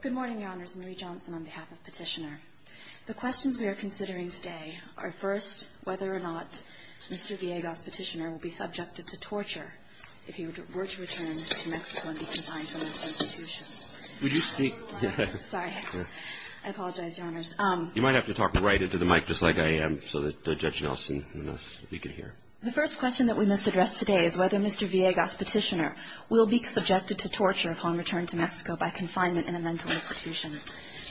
Good morning, Your Honors. Marie Johnson on behalf of Petitioner. The questions we are considering today are first, whether or not Mr. Villegas, Petitioner, will be subjected to torture if he were to return to Mexico and be confined to an institution. Would you speak? Sorry. I apologize, Your Honors. You might have to talk right into the mic just like I am so that Judge Nelson, we can hear. The first question that we must address today is whether Mr. Villegas, Petitioner, will be subjected to torture upon return to Mexico by confinement in a mental institution.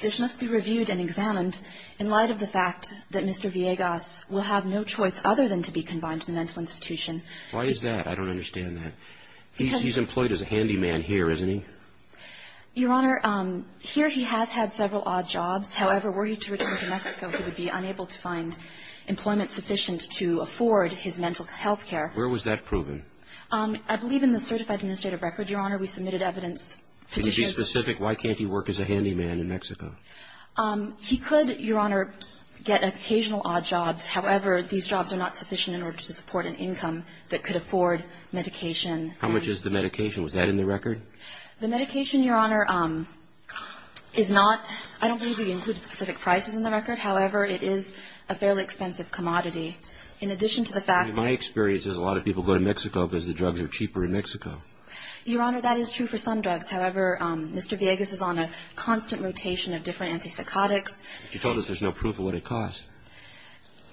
This must be reviewed and examined in light of the fact that Mr. Villegas will have no choice other than to be confined to a mental institution. Why is that? I don't understand that. He's employed as a handyman here, isn't he? Your Honor, here he has had several odd jobs. However, were he to return to Mexico, he would be unable to find employment sufficient to afford his mental health care. Where was that proven? I believe in the certified administrative record, Your Honor. We submitted evidence. Can you be specific? Why can't he work as a handyman in Mexico? He could, Your Honor, get occasional odd jobs. However, these jobs are not sufficient in order to support an income that could afford medication. The medication, Your Honor, is not – I don't believe we included specific prices in the record. However, it is a fairly expensive commodity. In addition to the fact – In my experience, a lot of people go to Mexico because the drugs are cheaper in Mexico. Your Honor, that is true for some drugs. However, Mr. Villegas is on a constant rotation of different antipsychotics. You told us there's no proof of what it costs.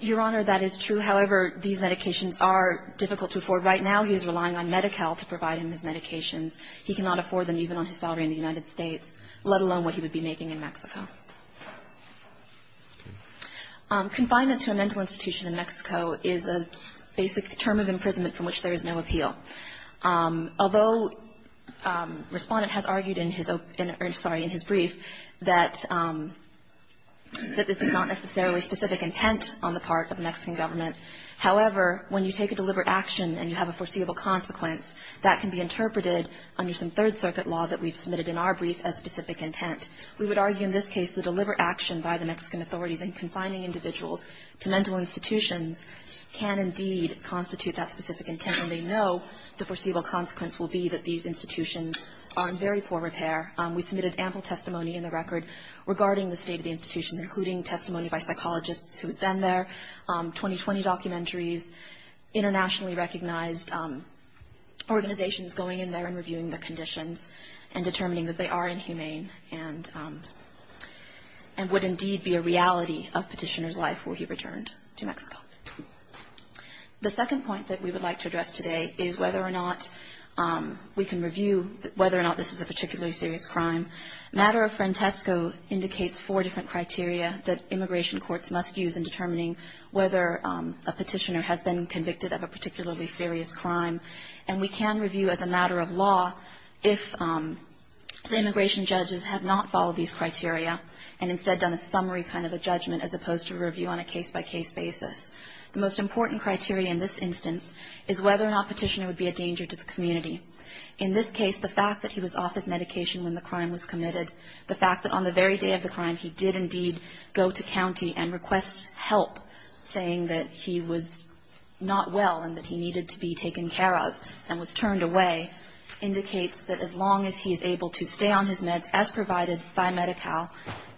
Your Honor, that is true. However, these medications are difficult to afford. Right now, he is relying on Medi-Cal to provide him his medications. He cannot afford them even on his salary in the United States, let alone what he would be making in Mexico. Okay. Confinement to a mental institution in Mexico is a basic term of imprisonment from which there is no appeal. Although Respondent has argued in his – sorry, in his brief that this is not necessarily specific intent on the part of the Mexican government, however, when you take a deliberate action and you have a foreseeable consequence, that can be interpreted under some Third Circuit law that we've submitted in our brief as specific intent. We would argue in this case the deliberate action by the Mexican authorities in confining individuals to mental institutions can indeed constitute that specific intent, and they know the foreseeable consequence will be that these institutions are in very poor repair. We submitted ample testimony in the record regarding the state of the institution, including testimony by psychologists who had been there, 2020 documentaries, internationally recognized organizations going in there and reviewing their conditions and determining that they are inhumane and would indeed be a reality of Petitioner's life were he returned to Mexico. The second point that we would like to address today is whether or not we can review whether or not this is a particularly serious crime. Matter of Frantesco indicates four different criteria that immigration courts must use in determining whether a Petitioner has been convicted of a particularly serious crime, and we can review as a matter of law if the immigration judges have not followed these criteria and instead done a summary kind of a judgment as opposed to a review on a case-by-case basis. The most important criteria in this instance is whether or not Petitioner would be a danger to the community. In this case, the fact that he was off his medication when the crime was committed, the fact that on the very day of the crime he did indeed go to county and request help saying that he was not well and that he needed to be taken care of and was turned away indicates that as long as he is able to stay on his meds as provided by Medi-Cal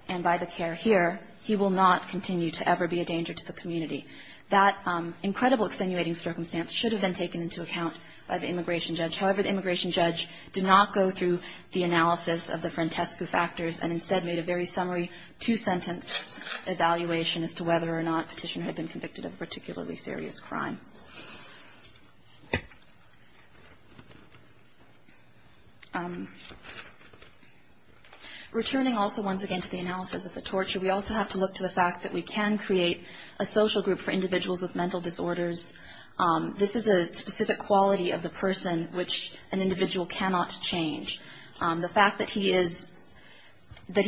and by the care here, he will not continue to ever be a danger to the community. That incredible extenuating circumstance should have been taken into account by the immigration judge. However, the immigration judge did not go through the analysis of the Frantesco factors and instead made a very summary two-sentence evaluation as to whether or not Petitioner had been convicted of a particularly serious crime. Returning also once again to the analysis of the torture, we also have to look to the fact that we can create a social group for individuals with mental disorders. This is a specific quality of the person which an individual cannot change. The fact that he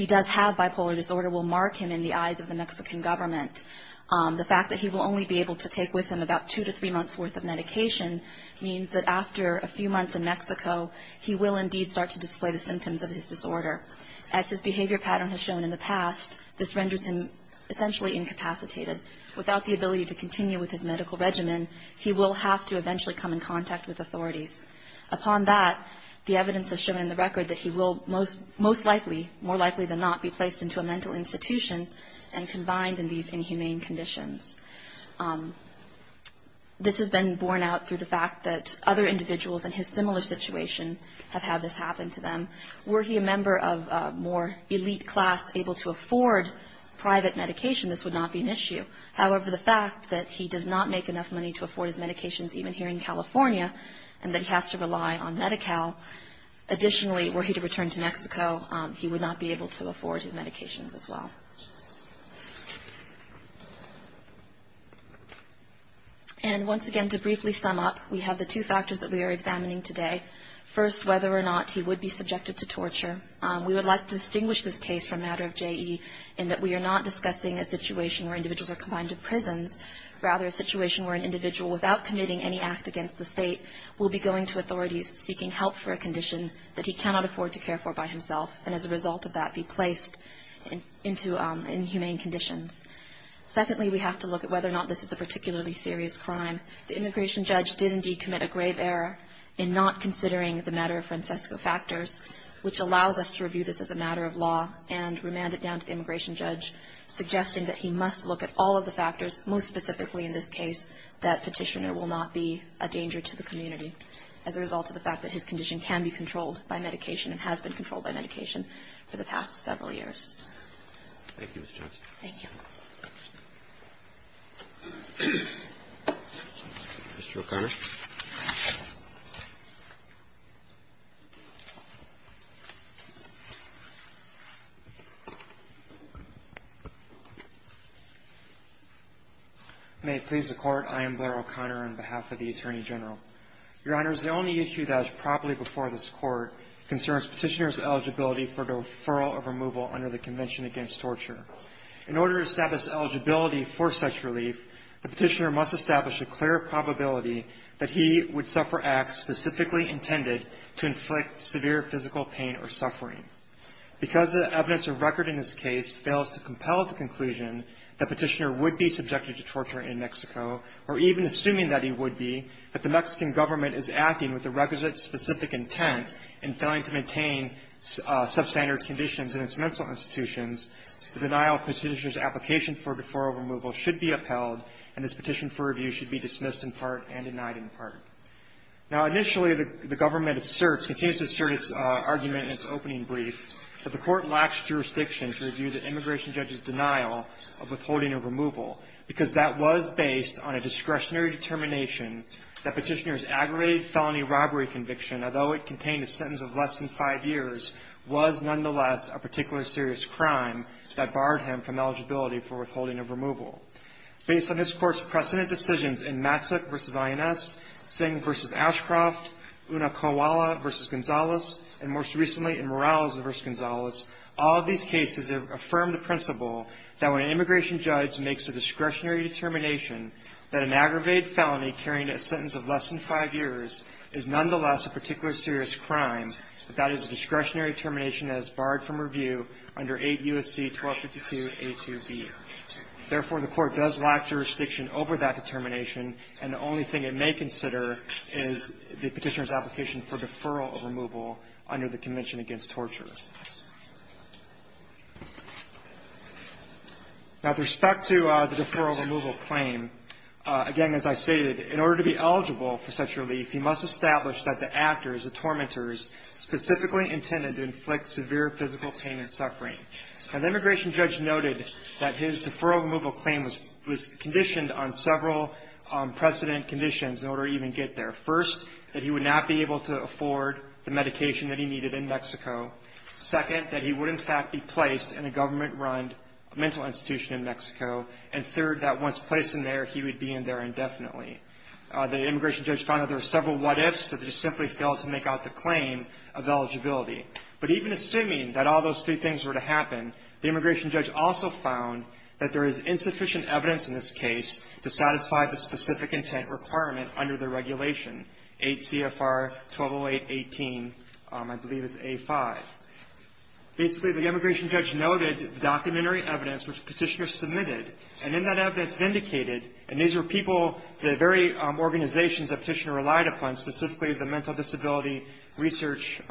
does have bipolar disorder will mark him in the eyes of the Mexican government. The fact that he will only be able to take with him about two to three months' worth of medication means that after a few months in Mexico, he will indeed start to display the symptoms of his disorder. As his behavior pattern has shown in the past, this renders him essentially incapacitated. Without the ability to continue with his medical regimen, he will have to eventually come in contact with authorities. Upon that, the evidence has shown in the record that he will most likely, more likely than not, be placed into a mental institution and combined in these inhumane conditions. This has been borne out through the fact that other individuals in his similar situation have had this happen to them. Were he a member of a more elite class able to afford private medication, this would not be an issue. However, the fact that he does not make enough money to afford his medications even here in California and that he has to rely on Medi-Cal, additionally, were he to return to Mexico, he would not be able to afford his medications as well. And once again, to briefly sum up, we have the two factors that we are examining today. First, whether or not he would be subjected to torture. We would like to distinguish this case from a matter of J.E. in that we are not discussing a situation where individuals are confined to prisons, rather a situation where an individual without committing any act against the State will be going to authorities seeking help for a condition that he cannot afford to care for by himself and as a result of that be placed into inhumane conditions. Secondly, we have to look at whether or not this is a particularly serious crime. The immigration judge did indeed commit a grave error in not considering the matter of Francesco Factors, which allows us to review this as a matter of law and remand it down to the immigration judge, suggesting that he must look at all of the factors, most specifically in this case, that Petitioner will not be a danger to the community as a result of the fact that his condition can be controlled by medication and has been controlled by medication for the past several years. Thank you, Ms. Johnson. Thank you. Mr. O'Connor. May it please the Court. I am Blair O'Connor on behalf of the Attorney General. Your Honor, the only issue that was properly before this Court concerns Petitioner's eligibility for the referral of removal under the Convention Against Torture. In order to establish eligibility for such relief, the Petitioner must establish a clear probability that he would suffer acts specifically intended to inflict severe physical pain or suffering. Because the evidence or record in this case fails to compel the conclusion that Petitioner would be subjected to torture in Mexico or even assuming that he would be, that the in its mental institutions, the denial of Petitioner's application for deferral removal should be upheld, and this petition for review should be dismissed in part and denied in part. Now, initially, the government asserts, continues to assert its argument in its opening brief, that the Court lacks jurisdiction to review the immigration judge's denial of withholding a removal, because that was based on a discretionary determination that Petitioner's aggravated felony robbery conviction, although it contained a sentence of less than five years, was nonetheless a particularly serious crime that barred him from eligibility for withholding of removal. Based on this Court's precedent decisions in Matsik v. INS, Singh v. Ashcroft, Unakowala v. Gonzalez, and most recently in Morales v. Gonzalez, all of these cases affirm the principle that when an immigration judge makes a discretionary determination that an aggravated felony carrying a sentence of less than five years is nonetheless a particularly serious crime, that that is a discretionary determination that is barred from review under 8 U.S.C. 1252a2b. Therefore, the Court does lack jurisdiction over that determination, and the only thing it may consider is the Petitioner's application for deferral of removal under the Convention Against Torture. Now, with respect to the deferral of removal claim, again, as I stated, in order to be eligible for such relief, he must establish that the actors, the tormentors, specifically intended to inflict severe physical pain and suffering. Now, the immigration judge noted that his deferral of removal claim was conditioned on several precedent conditions in order to even get there. First, that he would not be able to afford the medication that he needed in Mexico. Second, that he would, in fact, be placed in a government-run mental institution in Mexico. And third, that once placed in there, he would be in there indefinitely. The immigration judge found that there were several what-ifs that he simply failed to make out the claim of eligibility. But even assuming that all those three things were to happen, the immigration judge also found that there is insufficient evidence in this case to satisfy the specific intent requirement under the regulation, 8 CFR 1208-18, I believe it's A-5. Basically, the immigration judge noted the documentary evidence which Petitioner submitted, and in that evidence it indicated, and these were people, the very organizations that Petitioner relied upon, specifically the Mental Disability Research,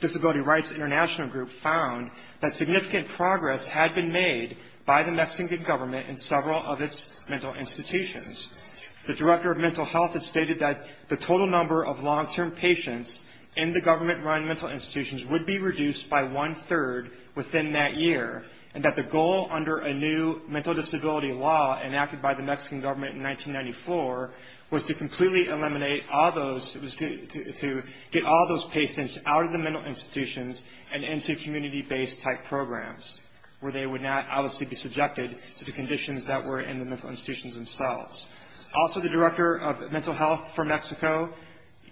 Disability Rights International Group, found that significant progress had been made by the Mexican government in several of its mental institutions. The Director of Mental Health had stated that the total number of long-term patients in the government-run mental institutions would be reduced by one-third within that year, and that the goal under a new mental disability law enacted by the Mexican government in 1994 was to completely eliminate all those, it was to get all those patients out of the mental institutions and into community-based-type programs, where they would not obviously be subjected to the conditions that were in the mental institutions themselves. Also, the Director of Mental Health for Mexico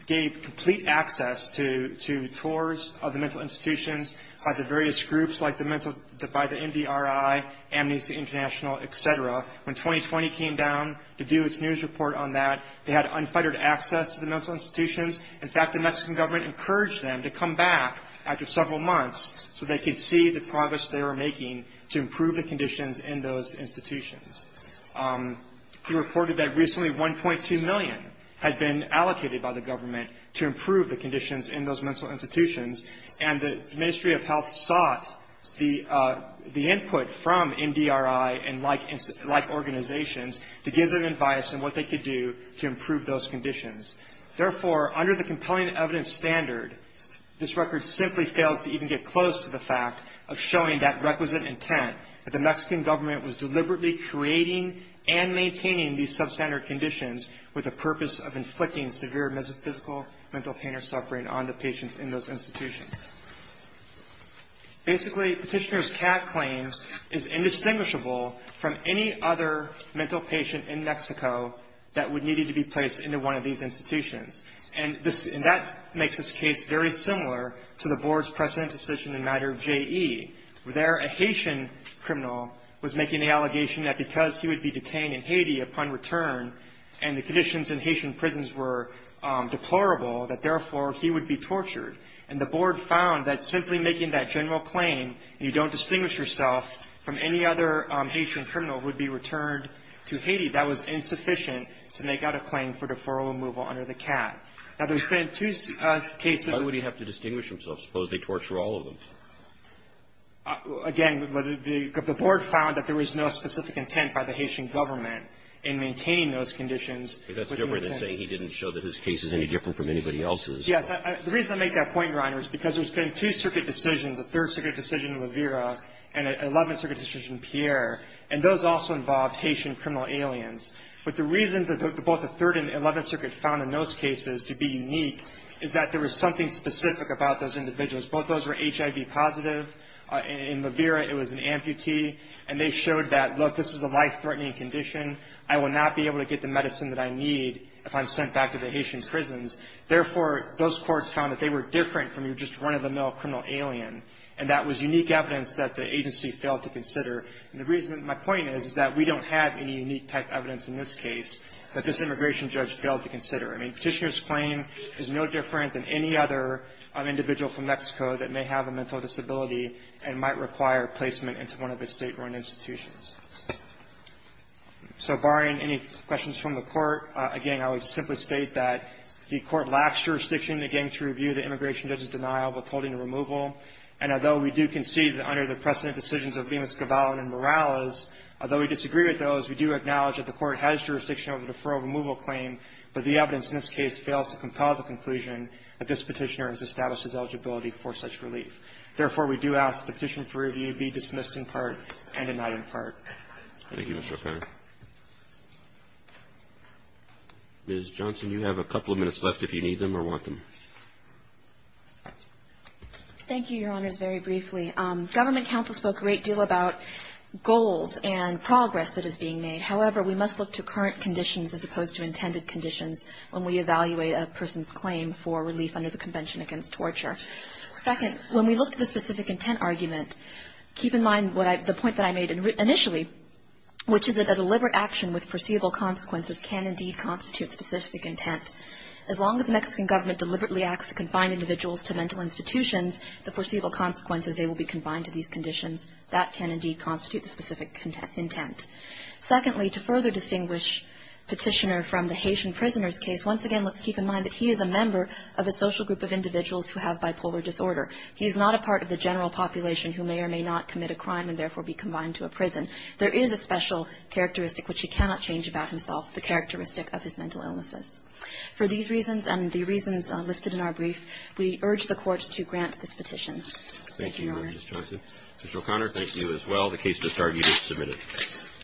gave complete access to tours of the mental institutions by the various groups like the Mental, by the MDRI, Amnesty International, et cetera. When 2020 came down to do its news report on that, they had unfettered access to the mental institutions. In fact, the Mexican government encouraged them to come back after several months so they could see the progress they were making to improve the conditions in those institutions. He reported that recently $1.2 million had been allocated by the government to improve the conditions in those mental institutions, and the Ministry of Health sought the input from MDRI and like organizations to give them advice on what they could do to improve those conditions. Therefore, under the compelling evidence standard, this record simply fails to even get close to the fact of showing that requisite intent that the Mexican government was deliberately creating and maintaining these substandard conditions with the purpose of inflicting severe mental pain or suffering on the patients in those institutions. Basically, Petitioner's CAD claims is indistinguishable from any other mental patient in Mexico that would need to be placed into one of these institutions. And that makes this case very similar to the Board's precedent decision in matter of JE, where there a Haitian criminal was making the allegation that because he would be detained in Haiti upon return and the conditions in Haitian prisons were deplorable, that therefore he would be tortured. And the Board found that simply making that general claim, and you don't distinguish yourself, from any other Haitian criminal who would be returned to Haiti, that was simply making that general claim, and you don't distinguish yourself. Suppose they torture all of them. Again, the Board found that there was no specific intent by the Haitian government in maintaining those conditions. But that's different than saying he didn't show that his case is any different from anybody else's. Yes. The reason I make that point, Your Honor, is because there's been two circuit decisions, a Third Circuit decision in Rivera and an Eleventh Circuit decision in Pierre, and those also involved Haitian criminal aliens. But the reasons that both the Third and Eleventh Circuit found in those cases to be unique is that there was something specific about those individuals. Both of those were HIV positive. In Rivera, it was an amputee. And they showed that, look, this is a life-threatening condition. I will not be able to get the medicine that I need if I'm sent back to the Haitian prisons. Therefore, those courts found that they were different from your just run-of-the-mill criminal alien. And that was unique evidence that the agency failed to consider. And the reason my point is, is that we don't have any unique type evidence in this case that this immigration judge failed to consider. I mean, Petitioner's claim is no different than any other individual from Mexico that may have a mental disability and might require placement into one of its state-run institutions. So barring any questions from the Court, again, I would simply state that the Court lacks jurisdiction, again, to review the immigration judge's denial of withholding a removal. And although we do concede that under the precedent decisions of Lima, Scavallo and Morales, although we disagree with those, we do acknowledge that the Court has jurisdiction over the deferral removal claim. But the evidence in this case fails to compel the conclusion that this Petitioner has established his eligibility for such relief. Therefore, we do ask that the petition for review be dismissed in part and denied in part. Thank you, Mr. O'Connor. Ms. Johnson, you have a couple of minutes left if you need them or want them. Thank you, Your Honors, very briefly. Government counsel spoke a great deal about goals and progress that is being made. However, we must look to current conditions as opposed to intended conditions when we evaluate a person's claim for relief under the Convention Against Torture. Second, when we look to the specific intent argument, keep in mind the point that I made initially, which is that a deliberate action with perceivable consequences can indeed constitute specific intent. As long as the Mexican government deliberately acts to confine individuals to mental institutions, the perceivable consequences, they will be confined to these conditions. That can indeed constitute the specific intent. Secondly, to further distinguish Petitioner from the Haitian prisoners case, once again, let's keep in mind that he is a member of a social group of individuals who have bipolar disorder. He is not a part of the general population who may or may not commit a crime and therefore be confined to a prison. There is a special characteristic which he cannot change about himself, the characteristic of his mental illnesses. For these reasons and the reasons listed in our brief, we urge the Court to grant this petition. Thank you, Your Honor. Mr. O'Connor, thank you as well. The case is argued and submitted.